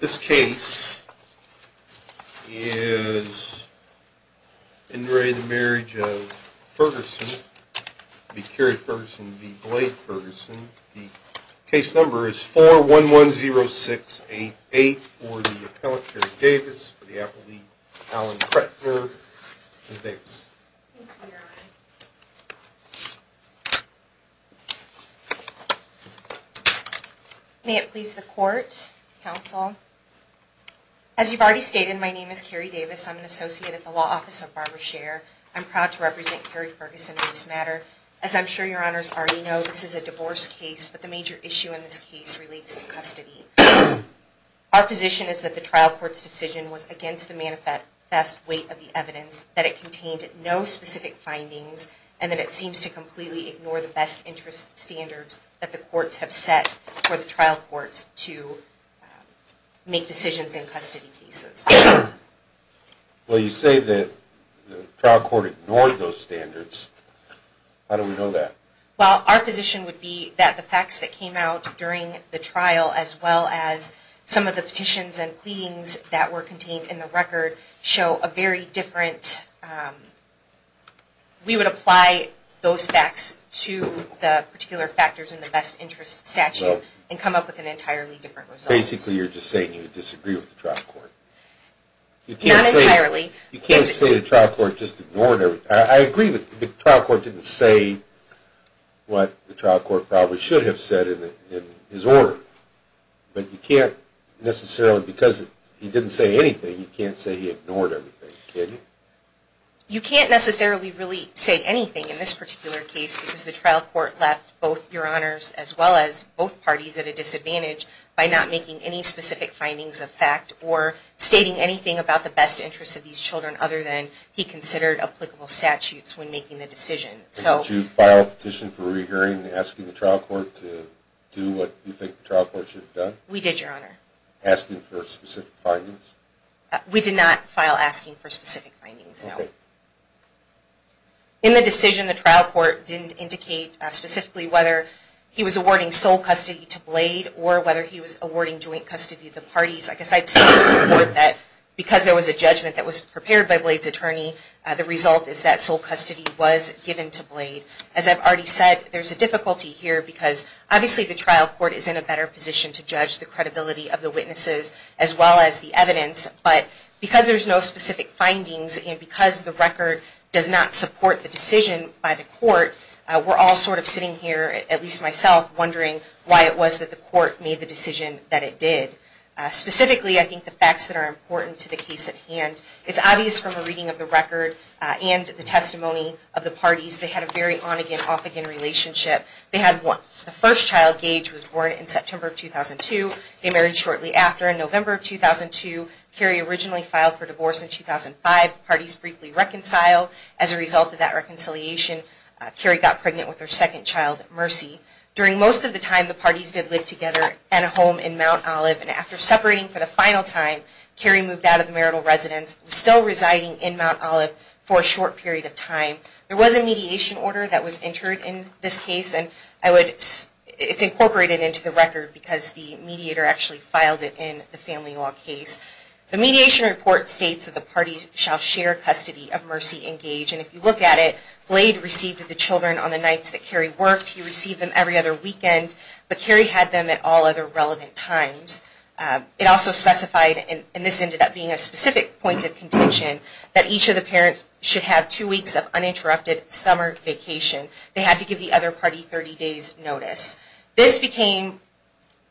This case is in re the marriage of Ferguson, B. Carey Ferguson, B. Blade Ferguson. The case number is 4110688 for the appellant Kerry Davis, for the appellant Allen Kretner, Ms. Davis. Thank you, Your Honor. May it please the Court, Counsel. As you've already stated, my name is Kerry Davis. I'm an associate at the Law Office of Barbara Sher. I'm proud to represent Kerry Ferguson in this matter. As I'm sure Your Honors already know, this is a divorce case, but the major issue in this case relates to custody. Our position is that the trial court's decision was against the manifest weight of the evidence, that it contained no specific findings, and that it seems to completely ignore the best interest standards that the courts have set for the trial courts to make decisions in custody cases. Well, you say that the trial court ignored those standards. How do we know that? Well, our position would be that the facts that came out during the trial, as well as some of the petitions and pleadings that were contained in the record, show a very different, we would apply those facts to the particular factors in the best interest statute and come up with an entirely different result. Basically, you're just saying you disagree with the trial court. Not entirely. You can't say the trial court just ignored everything. I agree that the trial court didn't say what the trial court probably should have said in his order, but you can't necessarily, because he didn't say anything, you can't say he ignored everything, can you? You can't necessarily really say anything in this particular case because the trial court left both your honors, as well as both parties, at a disadvantage by not making any specific findings of fact or stating anything about the best interest of these children other than he considered applicable statutes when making the decision. Did you file a petition for re-hearing asking the trial court to do what you think the trial court should have done? We did, Your Honor. Asking for specific findings? We did not file asking for specific findings, no. Okay. In the decision, the trial court didn't indicate specifically whether he was awarding sole custody to Blade or whether he was awarding joint custody to the parties. I guess I'd say to the court that because there was a judgment that was prepared by Blade's attorney, the result is that sole custody was given to Blade. As I've already said, there's a difficulty here because obviously the trial court is in a better position to judge the credibility of the witnesses as well as the evidence, but because there's no specific findings and because the record does not support the decision by the court, we're all sort of sitting here, at least myself, wondering why it was that the court made the decision that it did. Specifically, I think the facts that are important to the case at hand. It's obvious from a reading of the record and the testimony of the parties. They had a very on-again, off-again relationship. They had one. The first child, Gage, was born in September of 2002. They married shortly after. In November of 2002, Carrie originally filed for divorce in 2005. The parties briefly reconciled. As a result of that reconciliation, Carrie got pregnant with her second child, Mercy. During most of the time, the parties did live together in a home in Mount Olive, and after separating for the final time, Carrie moved out of the marital residence, still residing in Mount Olive for a short period of time. There was a mediation order that was entered in this case, and it's incorporated into the record because the mediator actually filed it in the family law case. The mediation report states that the parties shall share custody of Mercy and Gage, and if you look at it, Blade received the children on the nights that Carrie worked. He received them every other weekend, but Carrie had them at all other relevant times. It also specified, and this ended up being a specific point of contention, that each of the parents should have two weeks of uninterrupted summer vacation. They had to give the other party 30 days' notice. This became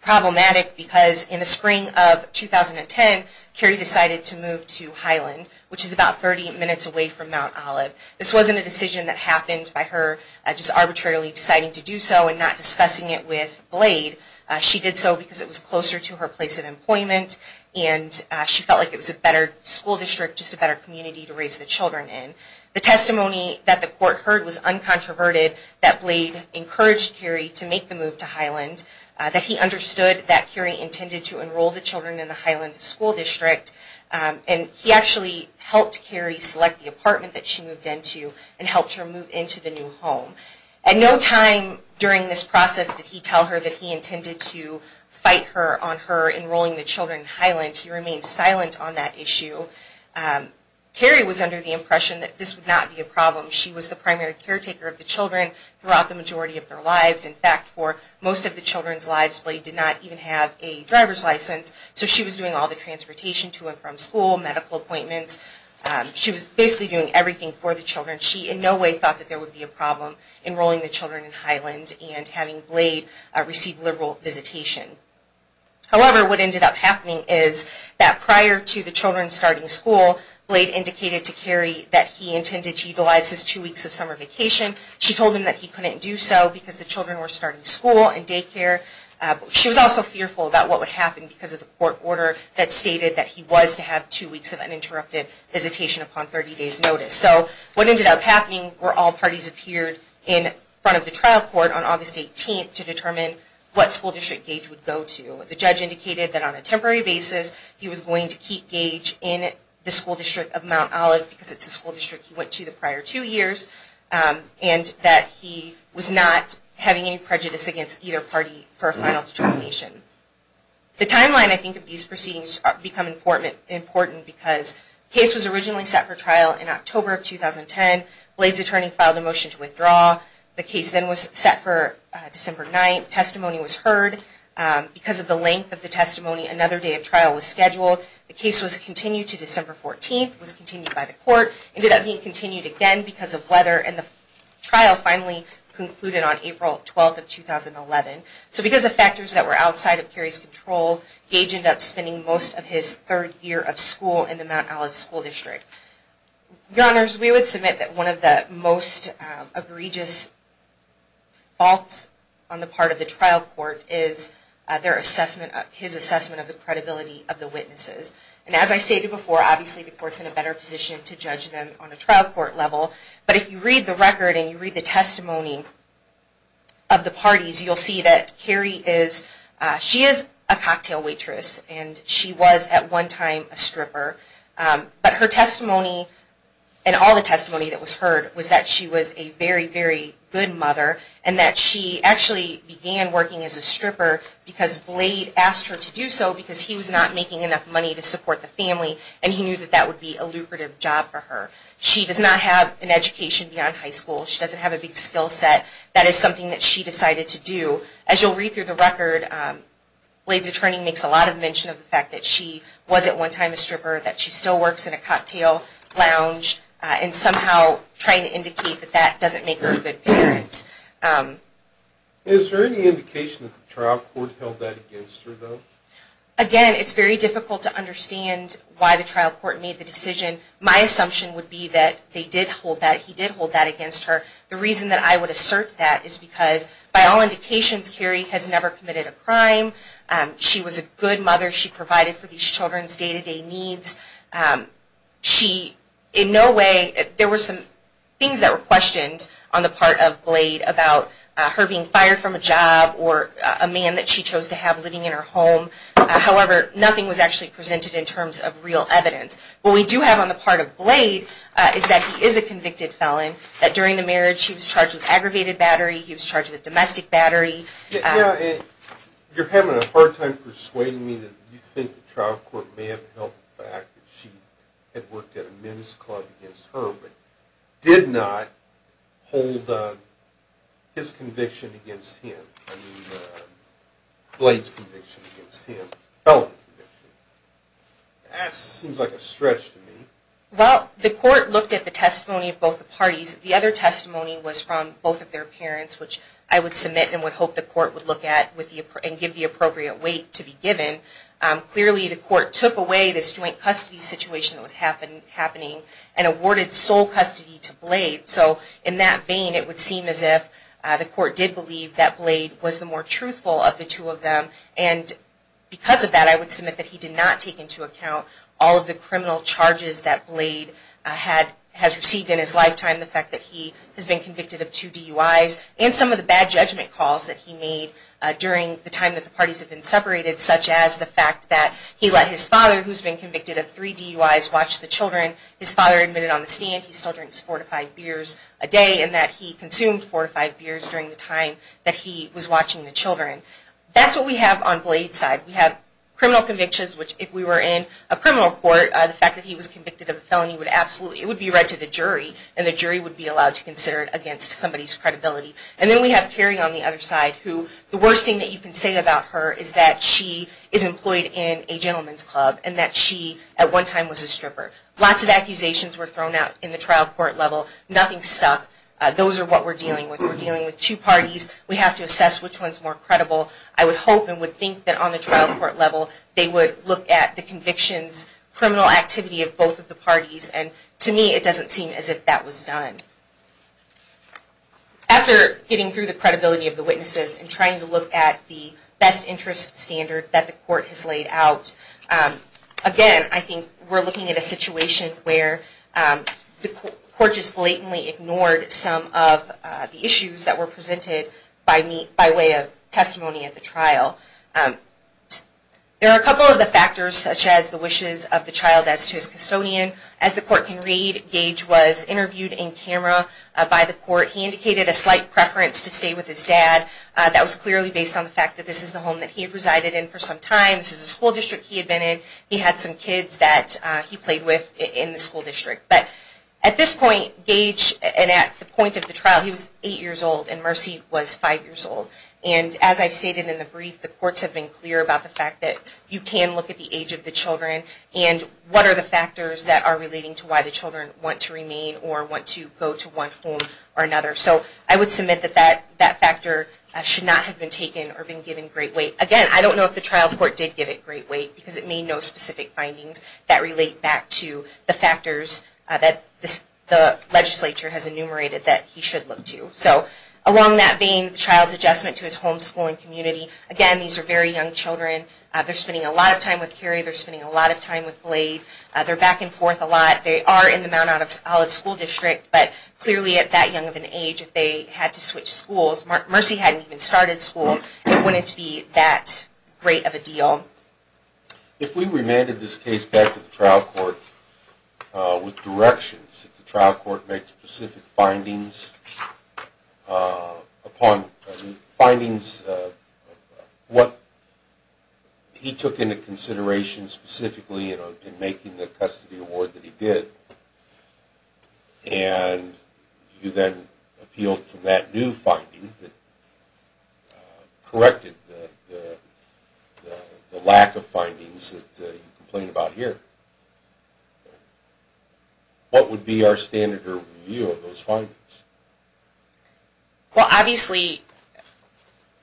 problematic because in the spring of 2010, Carrie decided to move to Highland, which is about 30 minutes away from Mount Olive. This wasn't a decision that happened by her just arbitrarily deciding to do so and not discussing it with Blade. She did so because it was closer to her place of employment, and she felt like it was a better school district, just a better community to raise the children in. The testimony that the court heard was uncontroverted, that Blade encouraged Carrie to make the move to Highland, that he understood that Carrie intended to enroll the children in the Highland School District, and he actually helped Carrie select the apartment that she moved into and helped her move into the new home. At no time during this process did he tell her that he intended to fight her on her enrolling the children in Highland. He remained silent on that issue. Carrie was under the impression that this would not be a problem. She was the primary caretaker of the children throughout the majority of their lives. In fact, for most of the children's lives, Blade did not even have a driver's license, so she was doing all the transportation to and from school, medical appointments. She was basically doing everything for the children. She in no way thought that there would be a problem enrolling the children in Highland and having Blade receive liberal visitation. However, what ended up happening is that prior to the children starting school, Blade indicated to Carrie that he intended to utilize his two weeks of summer vacation. She told him that he couldn't do so because the children were starting school and daycare. She was also fearful about what would happen because of the court order that stated that he was to have two weeks of uninterrupted visitation upon 30 days notice. So what ended up happening were all parties appeared in front of the trial court on August 18th to determine what school district Gage would go to. The judge indicated that on a temporary basis he was going to keep Gage in the school district of Mount Olive because it's a school district he went to the prior two years, and that he was not having any prejudice against either party for a final determination. The timeline, I think, of these proceedings become important because the case was originally set for trial in October of 2010. Blade's attorney filed a motion to withdraw. The case then was set for December 9th. Testimony was heard. Because of the length of the testimony, another day of trial was scheduled. It was continued by the court. It ended up being continued again because of weather, and the trial finally concluded on April 12th of 2011. So because of factors that were outside of Carey's control, Gage ended up spending most of his third year of school in the Mount Olive school district. Your Honors, we would submit that one of the most egregious faults on the part of the trial court is his assessment of the credibility of the witnesses. And as I stated before, obviously the court's in a better position to judge them on a trial court level. But if you read the record and you read the testimony of the parties, you'll see that Carey is a cocktail waitress, and she was at one time a stripper. But her testimony, and all the testimony that was heard, was that she was a very, very good mother, and that she actually began working as a stripper because Blade asked her to do so because he was not making enough money to support the family, and he knew that that would be a lucrative job for her. She does not have an education beyond high school. She doesn't have a big skill set. That is something that she decided to do. As you'll read through the record, Blade's attorney makes a lot of mention of the fact that she was at one time a stripper, that she still works in a cocktail lounge, and somehow trying to indicate that that doesn't make her a good parent. Is there any indication that the trial court held that against her, though? Again, it's very difficult to understand why the trial court made the decision. My assumption would be that they did hold that, he did hold that against her. The reason that I would assert that is because, by all indications, Carey has never committed a crime. She was a good mother. She provided for these children's day-to-day needs. In no way, there were some things that were questioned on the part of Blade about her being fired from a job or a man that she chose to have living in her home. However, nothing was actually presented in terms of real evidence. What we do have on the part of Blade is that he is a convicted felon, that during the marriage he was charged with aggravated battery, he was charged with domestic battery. You're having a hard time persuading me that you think the trial court may have held the fact that she had worked at a men's club against her, but did not hold his conviction against him, I mean Blade's conviction against him, felony conviction. That seems like a stretch to me. Well, the court looked at the testimony of both the parties. The other testimony was from both of their parents, which I would submit and would hope the court would look at and give the appropriate weight to be given. Clearly, the court took away this joint custody situation that was happening and awarded sole custody to Blade. So in that vein, it would seem as if the court did believe that Blade was the more truthful of the two of them. And because of that, I would submit that he did not take into account all of the criminal charges that Blade has received in his lifetime, the fact that he has been convicted of two DUIs, and some of the bad judgment calls that he made during the time that the parties had been separated, such as the fact that he let his father, who's been convicted of three DUIs, watch the children. His father admitted on the stand he still drinks fortified beers a day and that he consumed fortified beers during the time that he was watching the children. That's what we have on Blade's side. We have criminal convictions, which if we were in a criminal court, the fact that he was convicted of a felony would absolutely be read to the jury, and the jury would be allowed to consider it against somebody's credibility. And then we have Kerry on the other side, who the worst thing that you can say about her is that she is employed in a gentleman's club and that she at one time was a stripper. Lots of accusations were thrown out in the trial court level. Nothing stuck. Those are what we're dealing with. We're dealing with two parties. We have to assess which one's more credible. I would hope and would think that on the trial court level, they would look at the convictions, criminal activity of both of the parties. And to me, it doesn't seem as if that was done. After getting through the credibility of the witnesses and trying to look at the best interest standard that the court has laid out, again, I think we're looking at a situation where the court just blatantly ignored some of the issues that were presented by way of testimony at the trial. There are a couple of the factors, such as the wishes of the child as to his custodian. As the court can read, Gage was interviewed in camera by the court. He indicated a slight preference to stay with his dad. That was clearly based on the fact that this is the home that he had resided in for some time. This is the school district he had been in. He had some kids that he played with in the school district. But at this point, Gage, and at the point of the trial, he was 8 years old, and Mercy was 5 years old. And as I've stated in the brief, the courts have been clear about the fact that you can look at the age of the children and what are the factors that are relating to why the children want to remain or want to go to one home or another. So I would submit that that factor should not have been taken or been given great weight. Again, I don't know if the trial court did give it great weight because it made no specific findings that relate back to the factors that the legislature has enumerated that he should look to. So along that vein, the child's adjustment to his home, school, and community. Again, these are very young children. They're spending a lot of time with Carrie. They're spending a lot of time with Blade. They're back and forth a lot. They are in the Mount Olive School District, but clearly at that young of an age, if they had to switch schools, Mercy hadn't even started school, it wouldn't be that great of a deal. If we remanded this case back to the trial court with directions, that the trial court make specific findings upon findings of what he took into consideration specifically in making the custody award that he did, and you then appealed for that new finding that corrected the lack of findings that you complain about here, what would be our standard of review of those findings? Well, obviously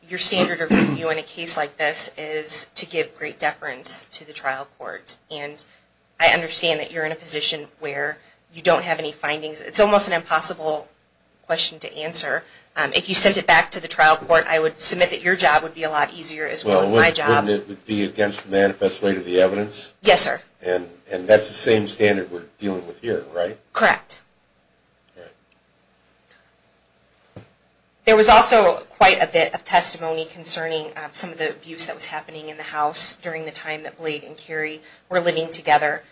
your standard of review in a case like this is to give great deference to the trial court. And I understand that you're in a position where you don't have any findings. It's almost an impossible question to answer. If you sent it back to the trial court, I would submit that your job would be a lot easier as well as my job. Wouldn't it be against the manifest way to the evidence? Yes, sir. And that's the same standard we're dealing with here, right? Correct. There was also quite a bit of testimony concerning some of the abuse that was happening in the house during the time that Blade and Carey were living together.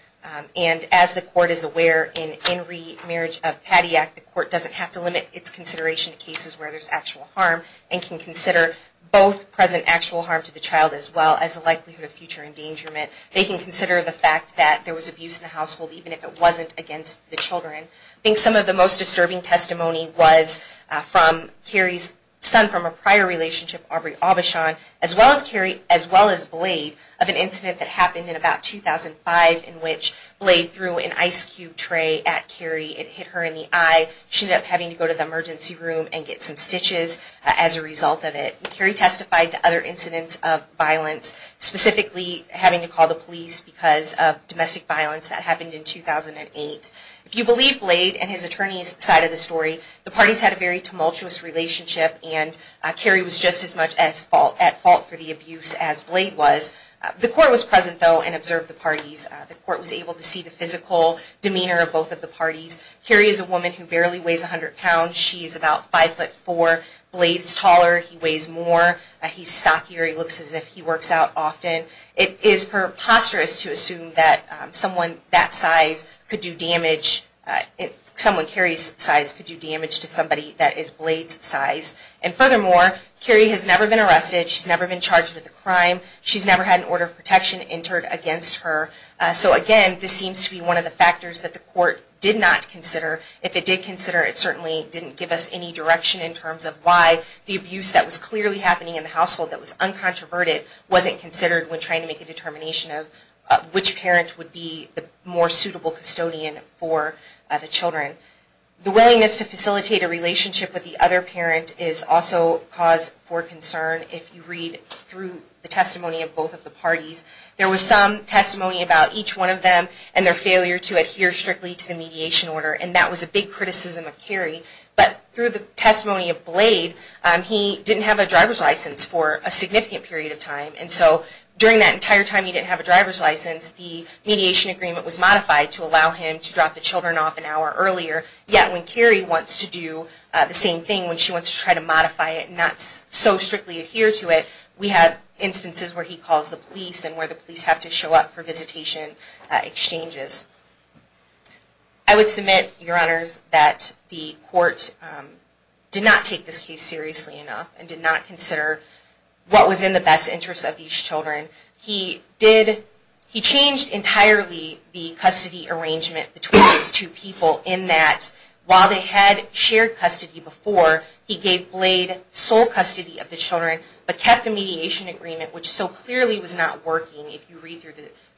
And as the court is aware, in Henry, Marriage of Padiac, the court doesn't have to limit its consideration to cases where there's actual harm and can consider both present actual harm to the child as well as the likelihood of future endangerment. They can consider the fact that there was abuse in the household even if it wasn't against the children. I think some of the most disturbing testimony was from Carey's son from a prior relationship, Aubrey Aubuchon, as well as Blade, of an incident that happened in about 2005 in which Blade threw an ice cube tray at Carey. It hit her in the eye. She ended up having to go to the emergency room and get some stitches as a result of it. Carey testified to other incidents of violence, specifically having to call the police because of domestic violence that happened in 2008. If you believe Blade and his attorney's side of the story, the parties had a very tumultuous relationship, and Carey was just as much at fault for the abuse as Blade was. The court was present, though, and observed the parties. Carey is a woman who barely weighs 100 pounds. She is about five foot four. Blade is taller. He weighs more. He's stockier. He looks as if he works out often. It is preposterous to assume that someone that size could do damage. Someone Carey's size could do damage to somebody that is Blade's size. And furthermore, Carey has never been arrested. She's never been charged with a crime. She's never had an order of protection entered against her. So, again, this seems to be one of the factors that the court did not consider. If it did consider, it certainly didn't give us any direction in terms of why the abuse that was clearly happening in the household that was uncontroverted wasn't considered when trying to make a determination of which parent would be the more suitable custodian for the children. The willingness to facilitate a relationship with the other parent is also cause for concern if you read through the testimony of both of the parties. There was some testimony about each one of them and their failure to adhere strictly to the mediation order. And that was a big criticism of Carey. But through the testimony of Blade, he didn't have a driver's license for a significant period of time. And so during that entire time he didn't have a driver's license, the mediation agreement was modified to allow him to drop the children off an hour earlier. Yet when Carey wants to do the same thing, when she wants to try to modify it and not so strictly adhere to it, we have instances where he calls the police and where the police have to show up for visitation exchanges. I would submit, Your Honors, that the court did not take this case seriously enough and did not consider what was in the best interest of these children. He changed entirely the custody arrangement between these two people in that while they had shared custody before, he gave Blade sole custody of the children but kept the mediation agreement, which so clearly was not working if you read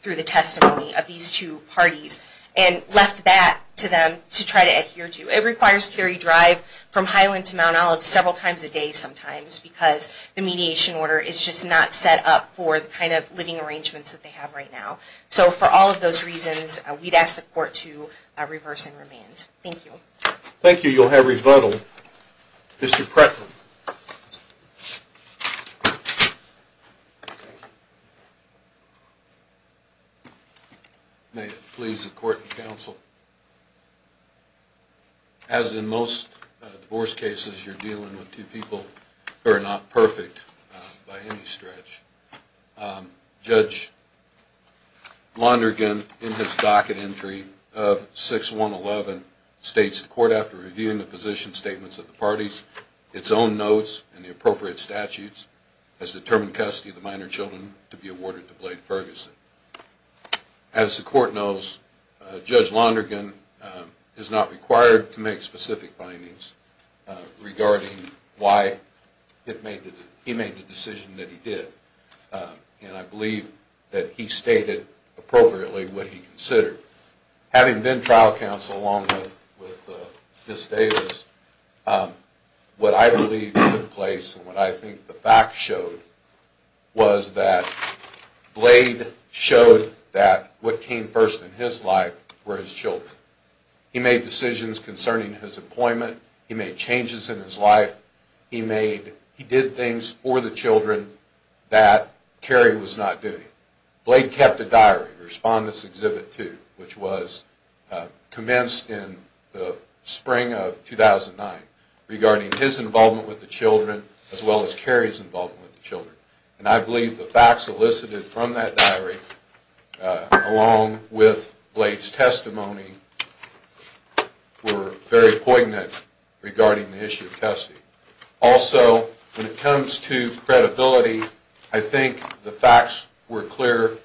through the testimony of these two parties, and left that to them to try to adhere to. It requires Carey drive from Highland to Mount Olive several times a day sometimes because the mediation order is just not set up for the kind of living arrangements that they have right now. So for all of those reasons, we'd ask the court to reverse and remand. Thank you. Thank you. You'll have rebuttal. Mr. Pratt. May it please the court and counsel, as in most divorce cases you're dealing with two people who are not perfect by any stretch. Judge Lonergan, in his docket entry of 6111, states the court, after reviewing the position statements of the parties, its own notes and the appropriate statutes, has determined custody of the minor children to be awarded to Blade Ferguson. As the court knows, Judge Lonergan is not required to make specific findings regarding why he made the decision that he did. And I believe that he stated appropriately what he considered. Having been trial counsel along with Ms. Davis, what I believe took place and what I think the facts showed was that Blade showed that what came first in his life were his children. He made decisions concerning his employment. He made changes in his life. He did things for the children that Carrie was not doing. Blade kept a diary, Respondents Exhibit 2, which was commenced in the spring of 2009, regarding his involvement with the children as well as Carrie's involvement with the children. And I believe the facts elicited from that diary, along with Blade's testimony, were very poignant regarding the issue of custody. Also, when it comes to credibility, I think the facts were clear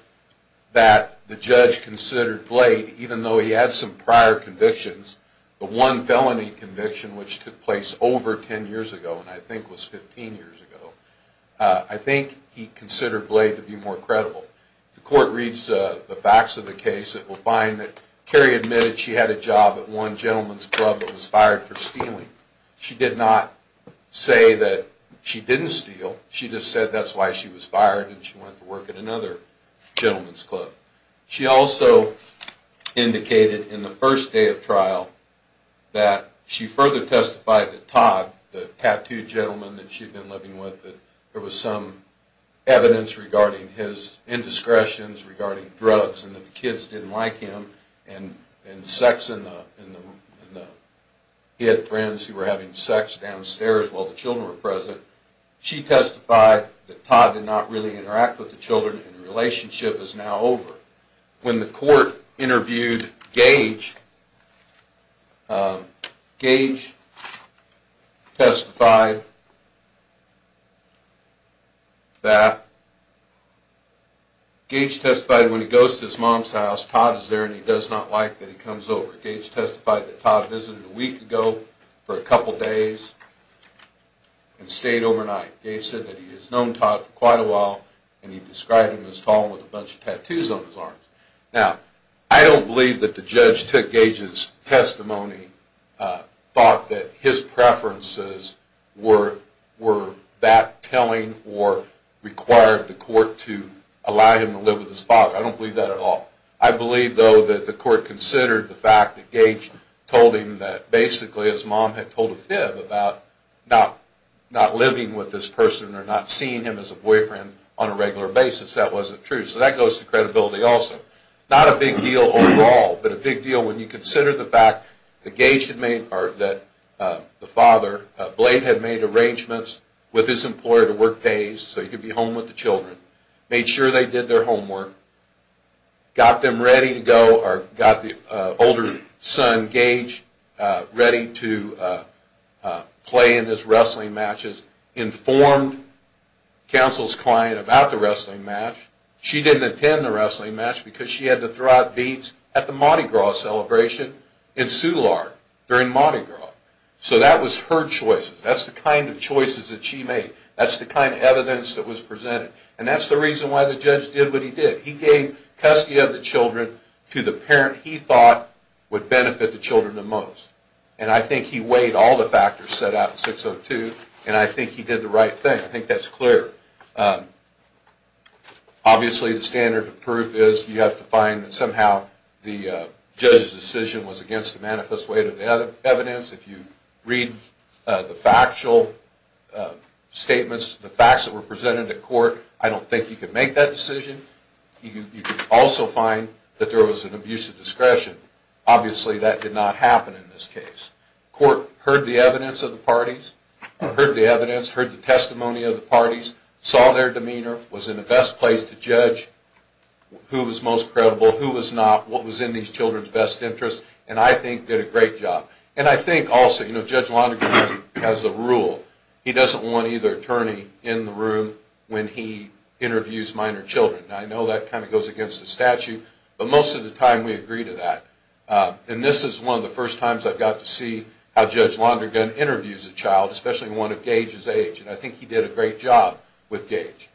that the judge considered Blade, even though he had some prior convictions, the one felony conviction which took place over 10 years ago, and I think was 15 years ago, I think he considered Blade to be more credible. The court reads the facts of the case. It will find that Carrie admitted she had a job at one gentleman's club that was fired for stealing. She did not say that she didn't steal. She just said that's why she was fired and she went to work at another gentleman's club. She also indicated in the first day of trial that she further testified that Todd, the tattooed gentleman that she had been living with, that there was some evidence regarding his indiscretions regarding drugs and that the kids didn't like him and sex in the... He had friends who were having sex downstairs while the children were present. She testified that Todd did not really interact with the children and the relationship is now over. When the court interviewed Gage, Gage testified that... Gage testified when he goes to his mom's house, Todd is there and he does not like that he comes over. Gage testified that Todd visited a week ago for a couple days and stayed overnight. Gage said that he has known Todd for quite a while and he described him as tall with a bunch of tattoos on his arms. Now, I don't believe that the judge took Gage's testimony, thought that his preferences were that telling or required the court to allow him to live with his father. I don't believe that at all. I believe, though, that the court considered the fact that Gage told him that basically his mom had told a fib about not living with this person or not seeing him as a boyfriend on a regular basis. That wasn't true. So that goes to credibility also. Not a big deal overall, but a big deal when you consider the fact that Gage had made... or that the father, Blade, had made arrangements with his employer to work days so he could be home with the children, made sure they did their homework, got them ready to go... or got the older son, Gage, ready to play in his wrestling matches, informed counsel's client about the wrestling match. She didn't attend the wrestling match because she had to throw out beats at the Mardi Gras celebration in Soulard during Mardi Gras. So that was her choices. That's the kind of choices that she made. That's the kind of evidence that was presented. And that's the reason why the judge did what he did. He gave custody of the children to the parent he thought would benefit the children the most. And I think he weighed all the factors set out in 602, and I think he did the right thing. I think that's clear. Obviously, the standard of proof is you have to find that somehow the judge's decision was against the manifest weight of the evidence. If you read the factual statements, the facts that were presented at court, I don't think you could make that decision. You could also find that there was an abuse of discretion. Obviously, that did not happen in this case. Court heard the evidence of the parties, heard the testimony of the parties, saw their demeanor, was in the best place to judge who was most credible, who was not, what was in these children's best interest, and I think did a great job. And I think also, you know, Judge Lonergan has a rule. He doesn't want either attorney in the room when he interviews minor children. I know that kind of goes against the statute, but most of the time we agree to that. And this is one of the first times I've got to see how Judge Lonergan interviews a child, especially one of Gage's age, and I think he did a great job with Gage.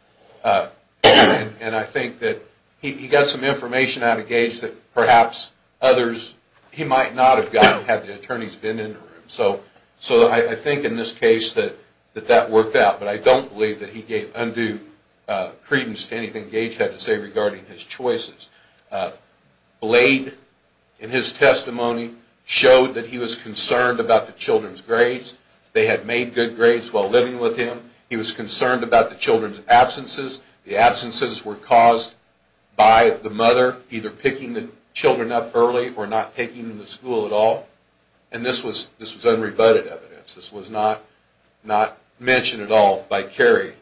And I think that he got some information out of Gage that perhaps others, he might not have gotten had the attorneys been in the room. So I think in this case that that worked out, but I don't believe that he gave undue credence to anything Gage had to say regarding his choices. Blade, in his testimony, showed that he was concerned about the children's grades. They had made good grades while living with him. He was concerned about the children's absences. The absences were caused by the mother either picking the children up early or not taking them to school at all. And this was unrebutted evidence. This was not mentioned at all by Carrie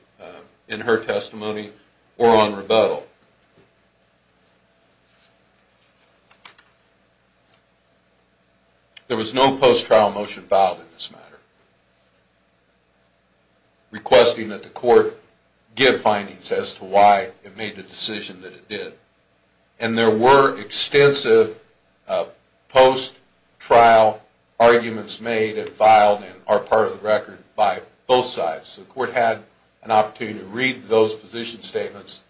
in her testimony or on rebuttal. There was no post-trial motion filed in this matter requesting that the court give findings as to why it made the decision that it did. And there were extensive post-trial arguments made and filed and are part of the record by both sides. So the court had an opportunity to read those position statements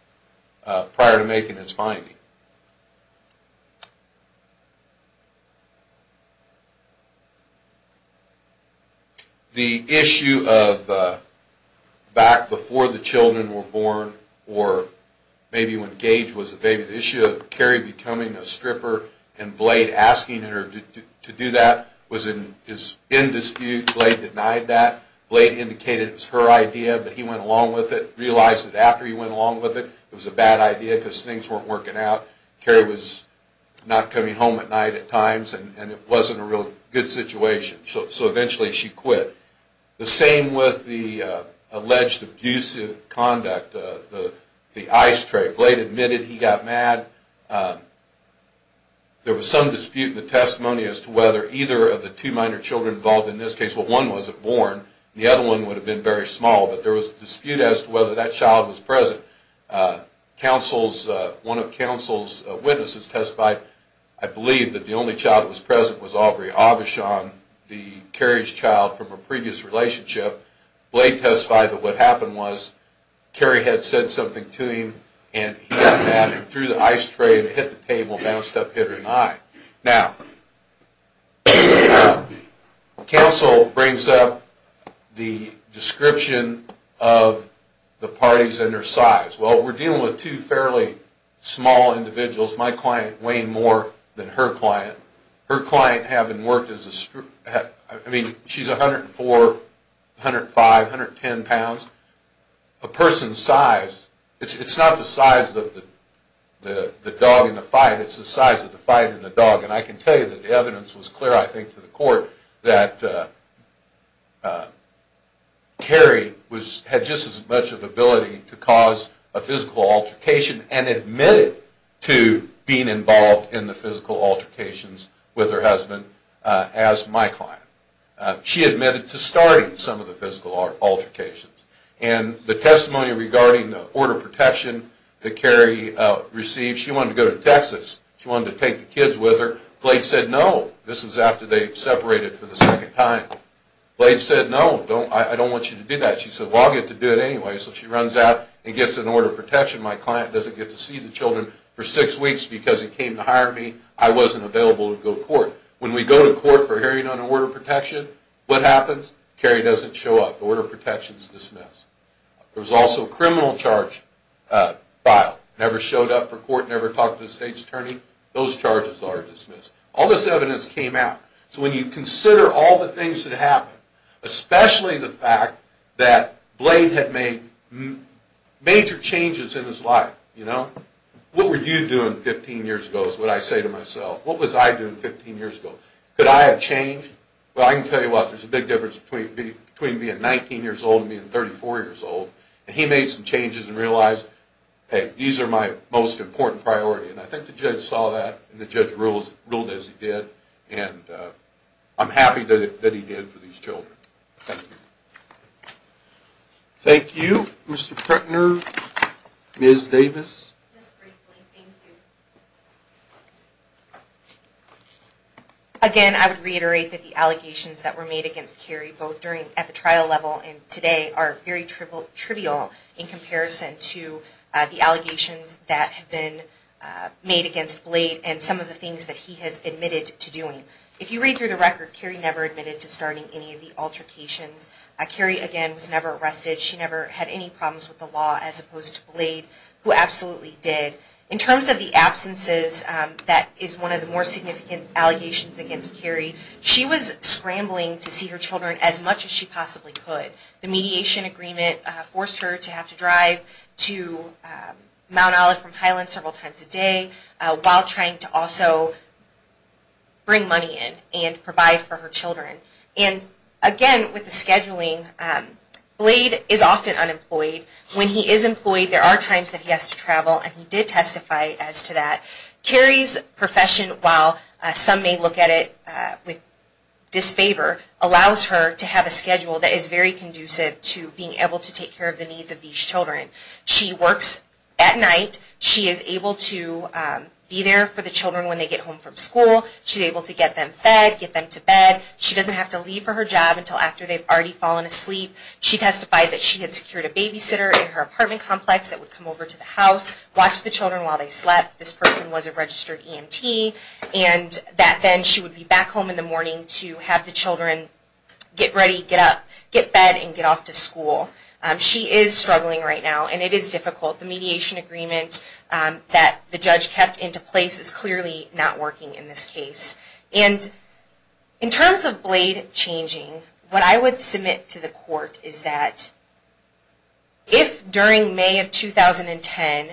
prior to making its finding. The issue of back before the children were born, or maybe when Gage was a baby, the issue of Carrie becoming a stripper and Blade asking her to do that was in dispute. Blade denied that. Blade indicated it was her idea, but he went along with it. Realized that after he went along with it, it was a bad idea because things weren't working out. Carrie was not coming home at night at times and it wasn't a real good situation. So eventually she quit. The same with the alleged abusive conduct, the ice tray. Blade admitted he got mad. There was some dispute in the testimony as to whether either of the two minor children involved in this case, well one wasn't born, the other one would have been very small, but there was a dispute as to whether that child was present. One of counsel's witnesses testified, I believe, that the only child that was present was Aubrey. Aubrey, the Carrie's child from a previous relationship. Blade testified that what happened was Carrie had said something to him and he got mad and threw the ice tray and hit the table and bounced up, hit her in the eye. Now, counsel brings up the description of the parties and their size. Well, we're dealing with two fairly small individuals. My client weighed more than her client. Her client having worked as a, I mean, she's 104, 105, 110 pounds. A person's size, it's not the size of the dog in the fight, it's the size of the fight and the dog. And I can tell you that the evidence was clear, I think, to the court, that Carrie had just as much of the ability to cause a physical altercation and admitted to being involved in the physical altercations with her husband as my client. She admitted to starting some of the physical altercations. And the testimony regarding the order of protection that Carrie received, she wanted to go to Texas, she wanted to take the kids with her. Blade said, no, this was after they separated for the second time. Blade said, no, I don't want you to do that. She said, well, I'll get to do it anyway. So she runs out and gets an order of protection. My client doesn't get to see the children for six weeks because he came to hire me. I wasn't available to go to court. When we go to court for hearing on an order of protection, what happens? Carrie doesn't show up. The order of protection is dismissed. There was also a criminal charge filed. Never showed up for court, never talked to the state's attorney. Those charges are dismissed. All this evidence came out. So when you consider all the things that happened, especially the fact that Blade had made major changes in his life, you know, what were you doing 15 years ago is what I say to myself. What was I doing 15 years ago? Could I have changed? Well, I can tell you what, there's a big difference between being 19 years old and being 34 years old. And he made some changes and realized, hey, these are my most important priority. And I think the judge saw that and the judge ruled as he did. And I'm happy that he did for these children. Thank you. Thank you. Mr. Pretner. Ms. Davis. Just briefly, thank you. Again, I would reiterate that the allegations that were made against Carrie, both at the trial level and today, are very trivial in comparison to the allegations that have been made against Blade and some of the things that he has admitted to doing. If you read through the record, Carrie never admitted to starting any of the altercations. Carrie, again, was never arrested. She never had any problems with the law as opposed to Blade, who absolutely did. In terms of the absences, that is one of the more significant allegations against Carrie. She was scrambling to see her children as much as she possibly could. The mediation agreement forced her to have to drive to Mount Olive from Highland several times a day while trying to also bring money in and provide for her children. And again, with the scheduling, Blade is often unemployed. When he is employed, there are times that he has to travel, and he did testify as to that. Carrie's profession, while some may look at it with disfavor, allows her to have a schedule that is very conducive to being able to take care of the needs of these children. She works at night. She is able to be there for the children when they get home from school. She's able to get them fed, get them to bed. She doesn't have to leave for her job until after they've already fallen asleep. She testified that she had secured a babysitter in her apartment complex that would come over to the house, watch the children while they slept. This person was a registered EMT, and that then she would be back home in the morning to have the children get ready, get up, get fed, and get off to school. She is struggling right now, and it is difficult. The mediation agreement that the judge kept into place is clearly not working in this case. And in terms of Blade changing, what I would submit to the court is that if during May of 2010,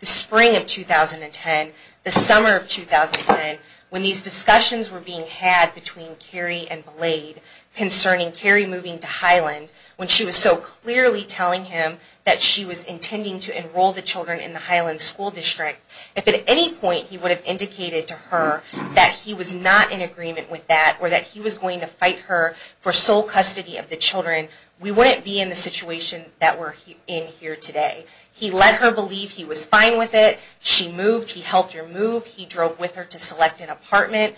the spring of 2010, the summer of 2010, when these discussions were being had between Carrie and Blade concerning Carrie moving to Highland, when she was so clearly telling him that she was intending to enroll the children in the Highland School District, if at any point he would have indicated to her that he was not in agreement with that or that he was going to fight her for sole custody of the children, we wouldn't be in the situation that we're in here today. He let her believe he was fine with it. She moved. He helped her move. He drove with her to select an apartment.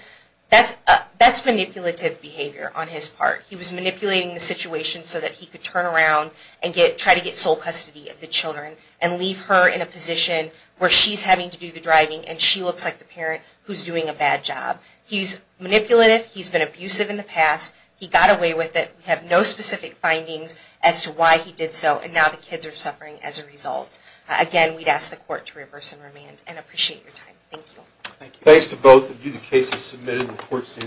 That's manipulative behavior on his part. He was manipulating the situation so that he could turn around and try to get sole custody of the children and leave her in a position where she's having to do the driving and she looks like the parent who's doing a bad job. He's manipulative. He's been abusive in the past. He got away with it. We have no specific findings as to why he did so, and now the kids are suffering as a result. Again, we'd ask the court to reverse and remand and appreciate your time. Thank you. Thanks to both of you.